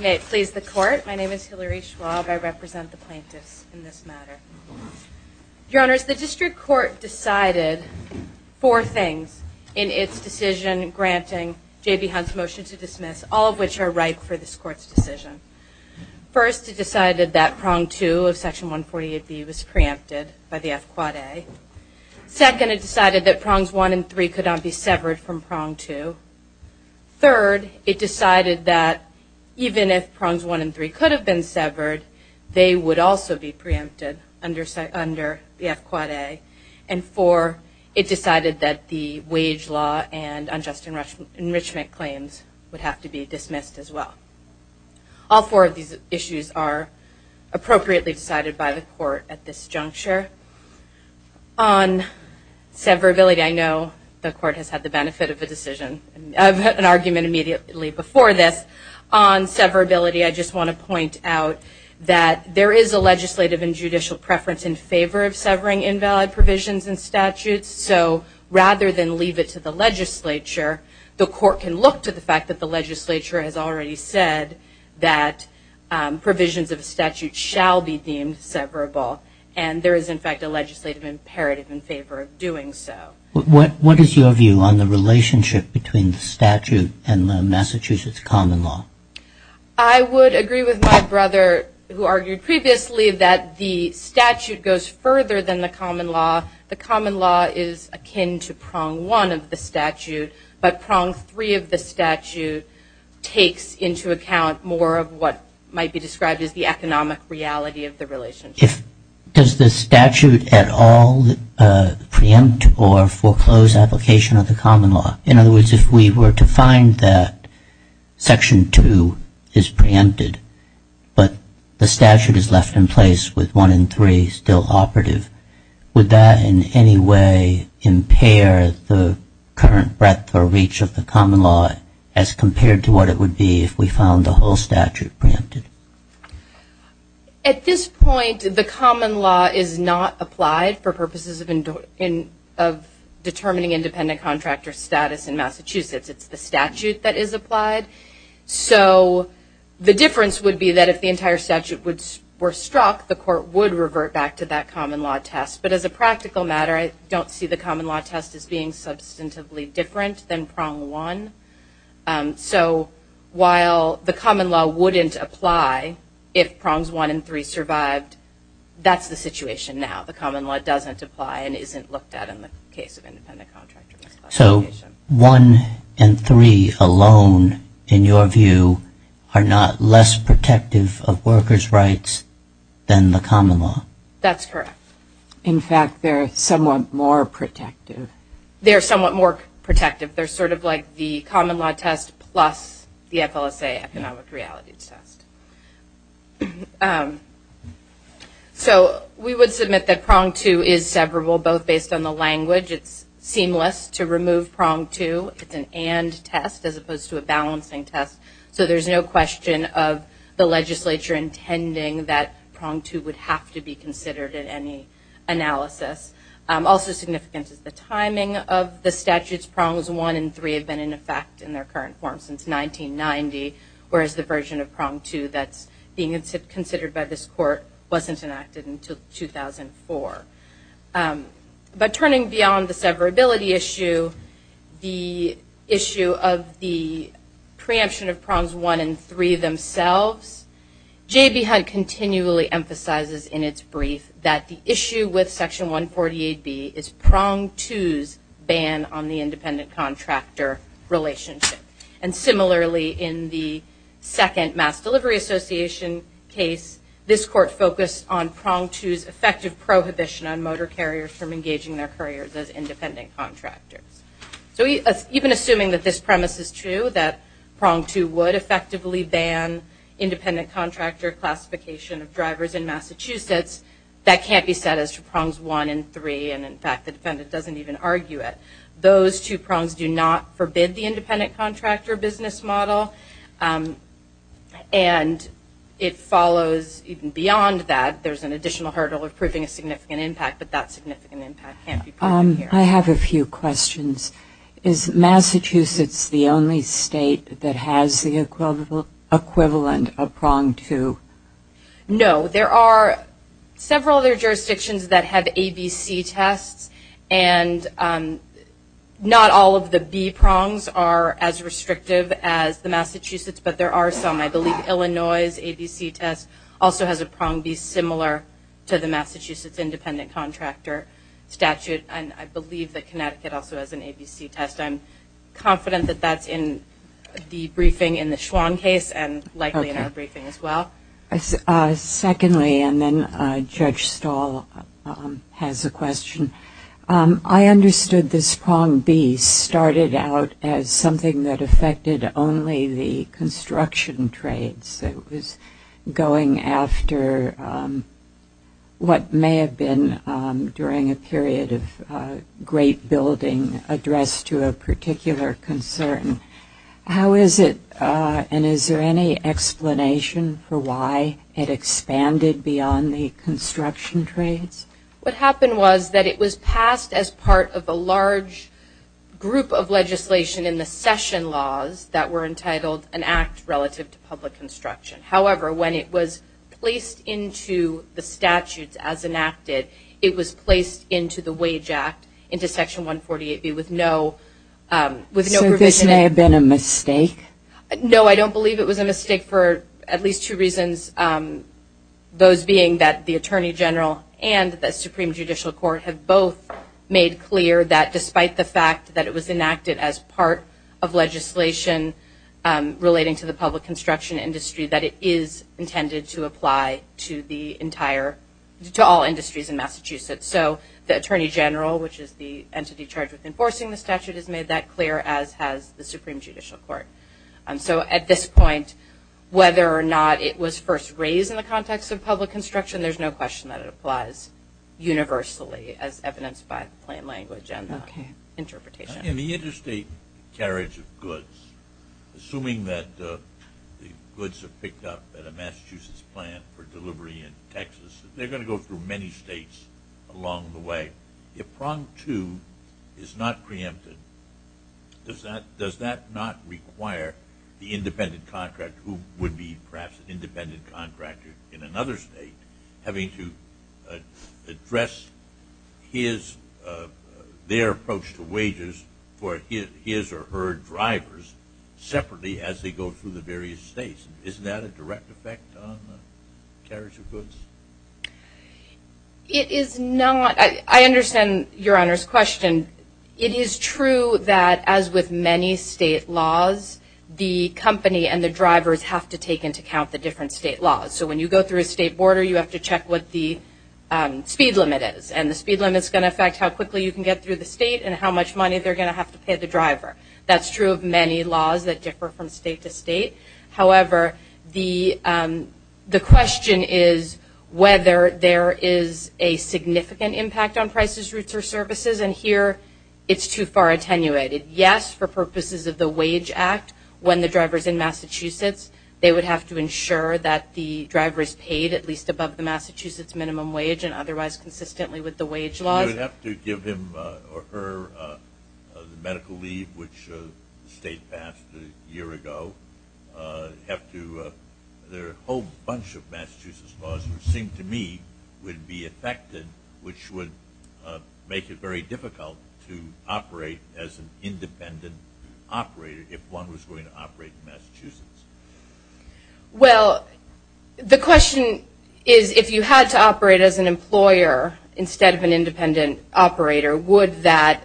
May it please the Court. My name is Hillary Schwab. I represent the plaintiffs in this matter. Your Honors, the District Court decided four things in its decision granting J.B. Hunt's motion to dismiss, all of which are ripe for this Court's decision. First, it decided that Prong 2 of Section 148B was preempted by the F-Quad A. Second, it decided that Prongs 1 and 3 could not be severed from Prong 2. Third, it decided that even if Prongs 1 and 3 could have been severed, they would also be preempted under the F-Quad A. And four, it decided that the wage law and unjust enrichment claims would have to be dismissed as well. All four of these issues are appropriately decided by the Court at this juncture. On severability, I know the Court has had the benefit of an argument immediately before this. On severability, I just want to point out that there is a legislative and judicial preference in favor of severing invalid provisions and statutes. So rather than leave it to the legislature, the Court can look to the fact that the legislature has already said that provisions of a statute shall be deemed severable. And there is, in fact, a legislative imperative in favor of doing so. What is your view on the relationship between the statute and Massachusetts common law? I would agree with my brother, who argued previously that the statute goes further than the common law. The common law is akin to Prong 1 of the statute, but Prong 3 of the statute takes into account more of what might be described as the economic reality of the relationship. Does the statute at all preempt or foreclose application of the common law? In other words, if we were to find that Section 2 is preempted, but the statute is left in place with 1 and 3 still operative, would that in any way impair the current breadth or reach of the common law as compared to what it would be if we found the whole statute preempted? At this point, the common law is not applied for purposes of determining independent contractor status in Massachusetts. It's the statute that is applied. So the difference would be that if the entire statute were struck, the Court would revert back to that common law test. But as a practical matter, I don't see the common law test as being substantively different than Prong 1. So while the common law wouldn't apply if Prongs 1 and 3 survived, that's the situation now. The common law doesn't apply and isn't looked at in the case of independent contractor misclassification. So 1 and 3 alone, in your view, are not less protective of workers' rights than the common law? That's correct. In fact, they're somewhat more protective. They're somewhat more protective. They're sort of like the common law test plus the FLSA economic realities test. So we would submit that Prong 2 is severable, both based on the language. It's seamless to remove Prong 2. It's an and test as opposed to a balancing test. So there's no question of the legislature intending that Prong 2 would have to be considered in any analysis. Also significant is the timing of the statutes. Prongs 1 and 3 have been in effect in their current form since 1990, whereas the version of Prong 2 that's being considered by this court wasn't enacted until 2004. But turning beyond the severability issue, the issue of the preemption of Prongs 1 and 3 themselves, J.B. Hunt continually emphasizes in its brief that the issue with Section 148B is Prong 2's ban on the independent contractor relationship. And similarly, in the second Mass Delivery Association case, this court focused on Prong 2's effective prohibition on motor carriers from engaging their couriers as independent contractors. So even assuming that this premise is true, that Prong 2 would effectively ban independent contractor classification of drivers in Massachusetts, that can't be said as to Prongs 1 and 3, and in fact the defendant doesn't even argue it. Those two prongs do not forbid the independent contractor business model, and it follows even beyond that there's an additional hurdle of proving a significant impact, but that significant impact can't be proven here. I have a few questions. Is Massachusetts the only state that has the equivalent of Prong 2? No. There are several other jurisdictions that have ABC tests, and not all of the B prongs are as restrictive as the Massachusetts, but there are some. I believe Illinois' ABC test also has a prong B similar to the Massachusetts independent contractor statute, and I believe that Connecticut also has an ABC test. I'm confident that that's in the briefing in the Schwann case and likely in our briefing as well. Secondly, and then Judge Stahl has a question, I understood this prong B started out as something that affected only the construction trades. It was going after what may have been during a period of great building addressed to a particular concern. How is it, and is there any explanation for why it expanded beyond the construction trades? What happened was that it was passed as part of a large group of legislation in the session laws that were entitled an act relative to public construction. However, when it was placed into the statutes as enacted, it was placed into the Wage Act, into Section 148B with no provision. So this may have been a mistake? No, I don't believe it was a mistake for at least two reasons, those being that the Attorney General and the Supreme Judicial Court have both made clear that despite the fact that it was enacted as part of legislation relating to the public construction industry, that it is intended to apply to all industries in Massachusetts. So the Attorney General, which is the entity charged with enforcing the statute, has made that clear as has the Supreme Judicial Court. So at this point, whether or not it was first raised in the context of public construction, there's no question that it applies universally as evidenced by the plan language and interpretation. In the interstate carriage of goods, assuming that the goods are picked up at a Massachusetts plant for delivery in Texas, they're going to go through many states along the way. If prong two is not preempted, does that not require the independent contractor, who would be perhaps an independent contractor in another state, having to address their approach to wages for his or her drivers separately as they go through the various states? Isn't that a direct effect on carriage of goods? It is not. I understand Your Honor's question. It is true that as with many state laws, the company and the drivers have to take into account the different state laws. So when you go through a state border, you have to check what the speed limit is. And the speed limit is going to affect how quickly you can get through the state and how much money they're going to have to pay the driver. That's true of many laws that differ from state to state. However, the question is whether there is a significant impact on prices, routes, or services. And here it's too far attenuated. Yes, for purposes of the Wage Act, when the driver is in Massachusetts, they would have to ensure that the driver is paid at least above the Massachusetts minimum wage and otherwise consistently with the wage laws. You would have to give him or her the medical leave, which the state passed a year ago. There are a whole bunch of Massachusetts laws which seem to me would be affected, which would make it very difficult to operate as an independent operator if one was going to operate in Massachusetts. Well, the question is if you had to operate as an employer instead of an independent operator, would that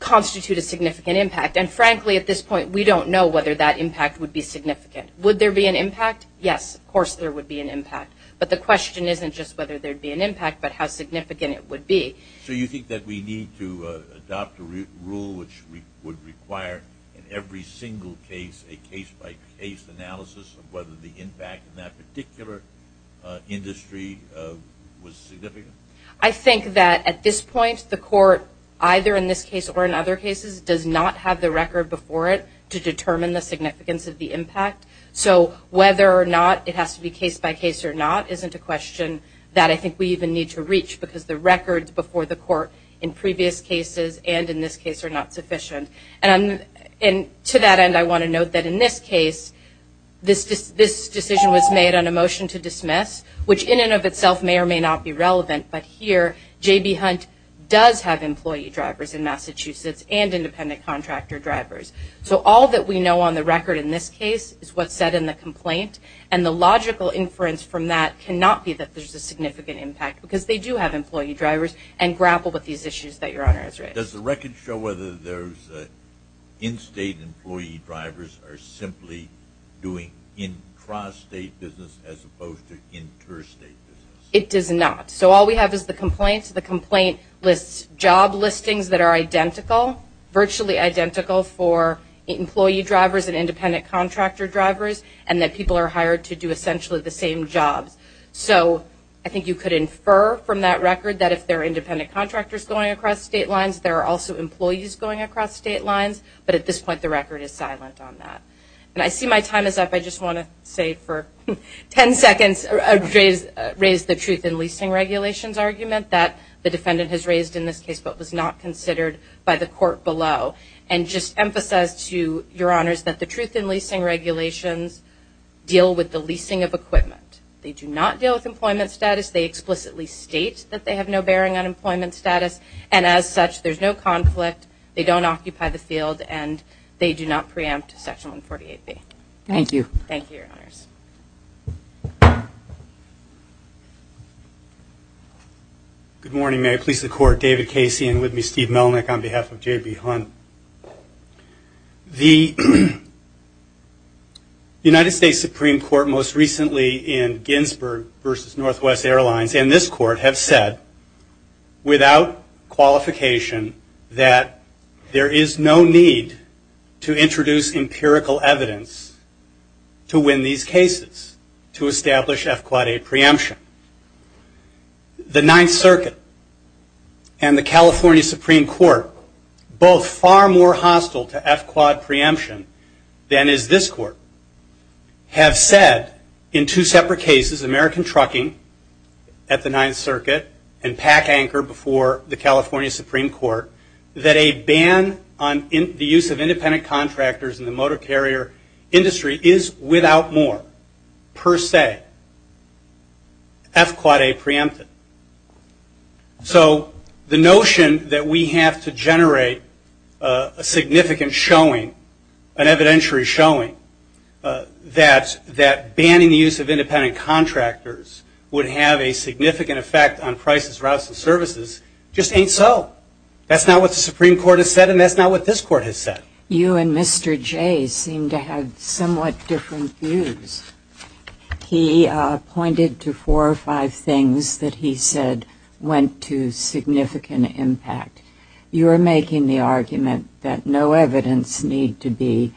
constitute a significant impact? And frankly, at this point, we don't know whether that impact would be significant. Would there be an impact? Yes, of course there would be an impact. But the question isn't just whether there would be an impact but how significant it would be. So you think that we need to adopt a rule which would require in every single case, a case-by-case analysis of whether the impact in that particular industry was significant? I think that at this point, the court, either in this case or in other cases, does not have the record before it to determine the significance of the impact. So whether or not it has to be case-by-case or not isn't a question that I think we even need to reach because the records before the court in previous cases and in this case are not sufficient. And to that end, I want to note that in this case, this decision was made on a motion to dismiss, which in and of itself may or may not be relevant, but here J.B. Hunt does have employee drivers in Massachusetts and independent contractor drivers. So all that we know on the record in this case is what's said in the complaint, and the logical inference from that cannot be that there's a significant impact because they do have employee drivers and grapple with these issues that Your Honor has raised. Does the record show whether there's in-state employee drivers are simply doing intrastate business as opposed to interstate business? It does not. So all we have is the complaint. The complaint lists job listings that are identical, virtually identical for employee drivers and independent contractor drivers, and that people are hired to do essentially the same jobs. So I think you could infer from that record that if there are independent contractors going across state lines, there are also employees going across state lines, but at this point the record is silent on that. And I see my time is up. I just want to say for 10 seconds raise the truth in leasing regulations argument that the defendant has raised in this case but was not considered by the court below and just emphasize to Your Honors that the truth in leasing regulations deal with the leasing of equipment. They do not deal with employment status. They explicitly state that they have no bearing on employment status, and as such there's no conflict. They don't occupy the field, and they do not preempt Section 148B. Thank you. Thank you, Your Honors. Good morning. May it please the Court, David Casey and with me Steve Melnick on behalf of J.B. Hunt. The United States Supreme Court most recently in Ginsburg versus Northwest Airlines and this court have said without qualification that there is no need to introduce empirical evidence to win these cases to establish F-Quad A preemption. The Ninth Circuit and the California Supreme Court, both far more hostile to F-Quad preemption than is this court, have said in two separate cases, American Trucking at the Ninth Circuit and PAC Anchor before the California Supreme Court, that a ban on the use of independent contractors in the motor carrier industry is without more per se. F-Quad A preempted. So the notion that we have to generate a significant showing, an evidentiary showing, that banning the use of independent contractors would have a significant effect on prices, routes, and services just ain't so. That's not what the Supreme Court has said, and that's not what this court has said. You and Mr. Jay seem to have somewhat different views. He pointed to four or five things that he said went to significant impact. You are making the argument that no evidence need to be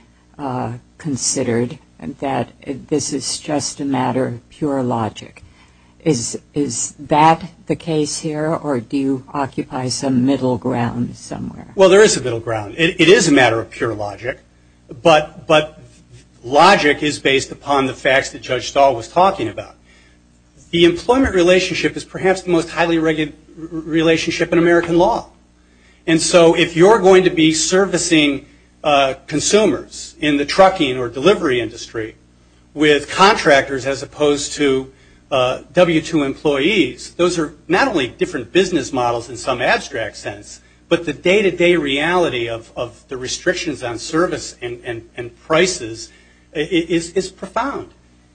considered, that this is just a matter of pure logic. Is that the case here, or do you occupy some middle ground somewhere? Well, there is a middle ground. It is a matter of pure logic, but logic is based upon the facts that Judge Stahl was talking about. The employment relationship is perhaps the most highly regulated relationship in American law. And so if you're going to be servicing consumers in the trucking or delivery industry with contractors as opposed to W-2 employees, those are not only different business models in some abstract sense, but the day-to-day reality of the restrictions on service and prices is profound.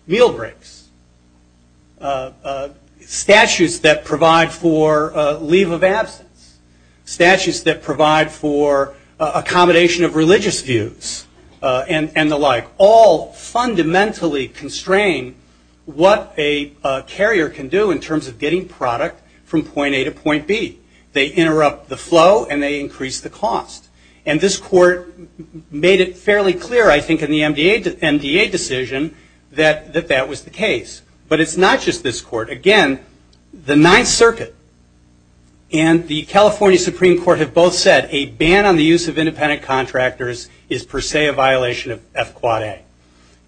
Meal breaks, statutes that provide for leave of absence, statutes that provide for accommodation of religious views, and the like, all fundamentally constrain what a carrier can do in terms of getting product from point A to point B. They interrupt the flow, and they increase the cost. And this court made it fairly clear, I think, in the MDA decision that that was the case. But it's not just this court. Again, the Ninth Circuit and the California Supreme Court have both said that a ban on the use of independent contractors is per se a violation of F-Quad-A.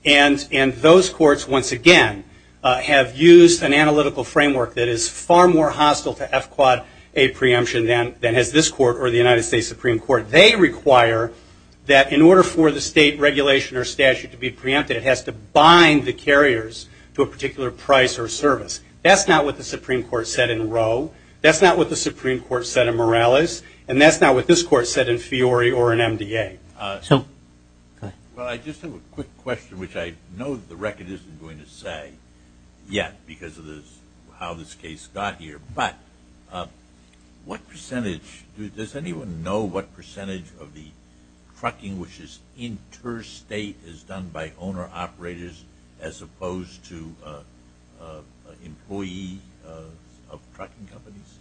And those courts, once again, have used an analytical framework that is far more hostile to F-Quad-A preemption than has this court or the United States Supreme Court. They require that in order for the state regulation or statute to be preempted, it has to bind the carriers to a particular price or service. That's not what the Supreme Court said in Roe. That's not what the Supreme Court said in Morales. And that's not what this court said in Fiori or in MDA. I just have a quick question, which I know the record isn't going to say yet because of how this case got here. But does anyone know what percentage of the trucking which is interstate is done by owner-operators as opposed to employee of trucking companies?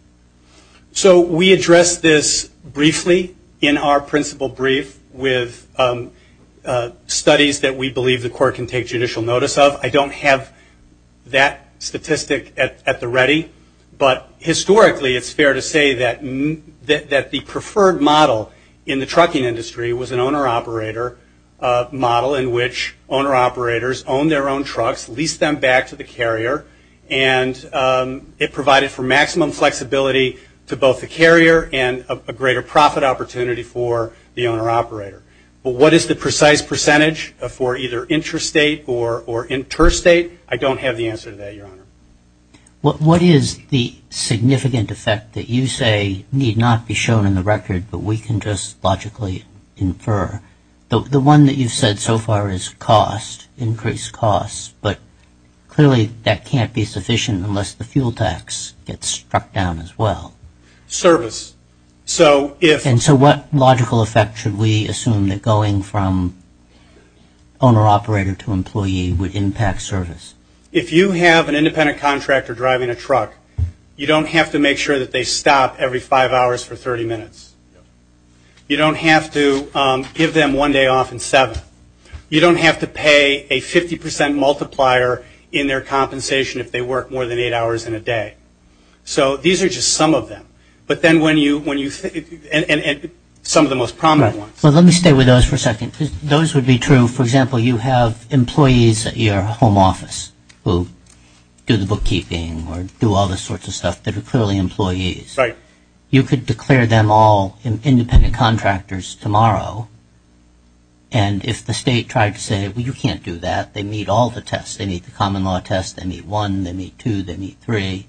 So we addressed this briefly in our principal brief with studies that we believe the court can take judicial notice of. I don't have that statistic at the ready. But historically, it's fair to say that the preferred model in the trucking industry was an owner-operator model in which owner-operators owned their own trucks, leased them back to the carrier, and it provided for maximum flexibility to both the carrier and a greater profit opportunity for the owner-operator. But what is the precise percentage for either intrastate or interstate? I don't have the answer to that, Your Honor. What is the significant effect that you say need not be shown in the record but we can just logically infer? The one that you've said so far is cost, increased costs, but clearly that can't be sufficient unless the fuel tax gets struck down as well. Service. And so what logical effect should we assume that going from owner-operator to employee would impact service? If you have an independent contractor driving a truck, you don't have to make sure that they stop every five hours for 30 minutes. You don't have to give them one day off in seven. You don't have to pay a 50% multiplier in their compensation if they work more than eight hours in a day. So these are just some of them. But then when you – and some of the most prominent ones. Well, let me stay with those for a second because those would be true. For example, you have employees at your home office who do the bookkeeping or do all the sorts of stuff that are clearly employees. Right. You could declare them all independent contractors tomorrow. And if the state tried to say, well, you can't do that. They meet all the tests. They meet the common law test. They meet one. They meet two. They meet three.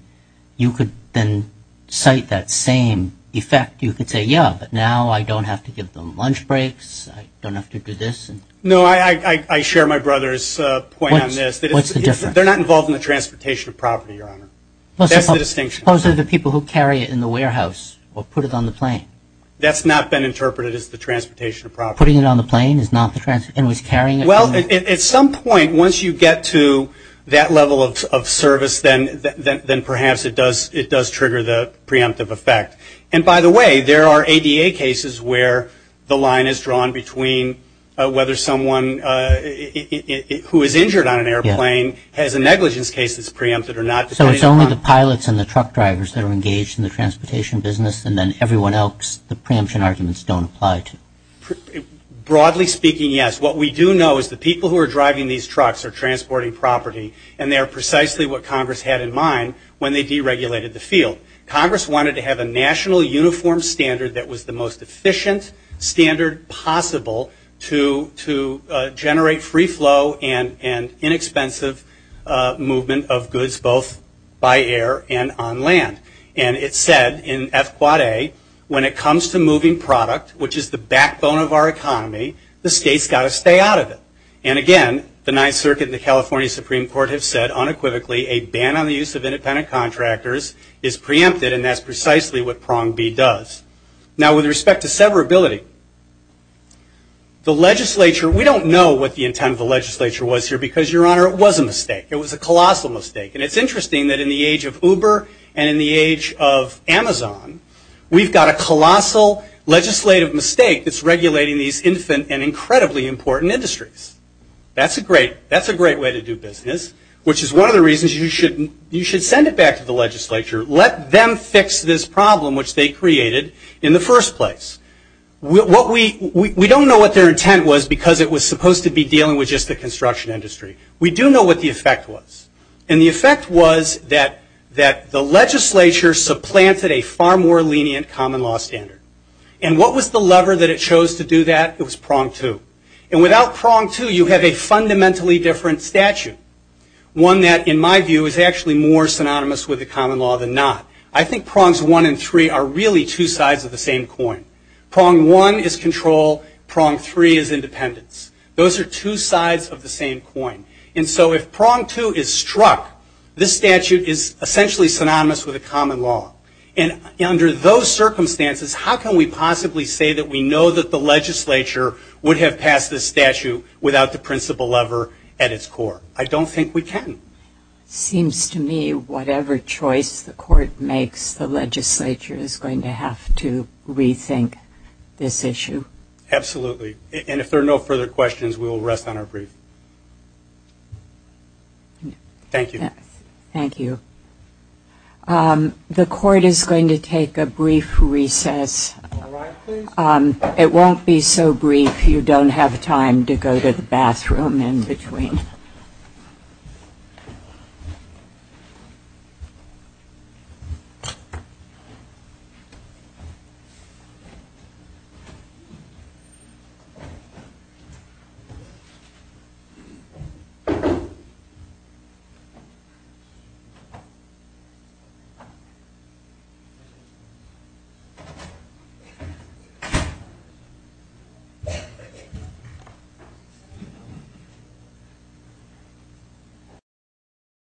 You could then cite that same effect. You could say, yeah, but now I don't have to give them lunch breaks. I don't have to do this. No, I share my brother's point on this. What's the difference? They're not involved in the transportation of property, Your Honor. That's the distinction. Suppose they're the people who carry it in the warehouse or put it on the plane. That's not been interpreted as the transportation of property. Putting it on the plane is not the transportation. Well, at some point, once you get to that level of service, then perhaps it does trigger the preemptive effect. And, by the way, there are ADA cases where the line is drawn between whether someone who is injured on an airplane has a negligence case that's preempted or not. So it's only the pilots and the truck drivers that are engaged in the transportation business, and then everyone else the preemption arguments don't apply to? Broadly speaking, yes. What we do know is the people who are driving these trucks are transporting property, and they're precisely what Congress had in mind when they deregulated the field. Congress wanted to have a national uniform standard that was the most efficient standard possible to generate free flow and inexpensive movement of goods both by air and on land. And it said in F quad A, when it comes to moving product, which is the backbone of our economy, the state's got to stay out of it. And, again, the Ninth Circuit and the California Supreme Court have said unequivocally a ban on the use of independent contractors is preempted, and that's precisely what prong B does. Now, with respect to severability, the legislature, we don't know what the intent of the legislature was here because, Your Honor, it was a mistake. It was a colossal mistake. And it's interesting that in the age of Uber and in the age of Amazon, we've got a colossal legislative mistake that's regulating these infant and incredibly important industries. That's a great way to do business, which is one of the reasons you should send it back to the legislature. Let them fix this problem which they created in the first place. We don't know what their intent was because it was supposed to be dealing with just the construction industry. We do know what the effect was. And the effect was that the legislature supplanted a far more lenient common law standard. And what was the lever that it chose to do that? It was prong 2. And without prong 2, you have a fundamentally different statute, one that, in my view, is actually more synonymous with the common law than not. I think prongs 1 and 3 are really two sides of the same coin. Prong 1 is control. Prong 3 is independence. Those are two sides of the same coin. And so if prong 2 is struck, this statute is essentially synonymous with a common law. And under those circumstances, how can we possibly say that we know that the legislature would have passed this statute without the principal lever at its core? I don't think we can. It seems to me whatever choice the court makes, the legislature is going to have to rethink this issue. Absolutely. And if there are no further questions, we will rest on our brief. Thank you. Thank you. The court is going to take a brief recess. All rise, please. It won't be so brief, you don't have time to go to the bathroom in between. Thank you.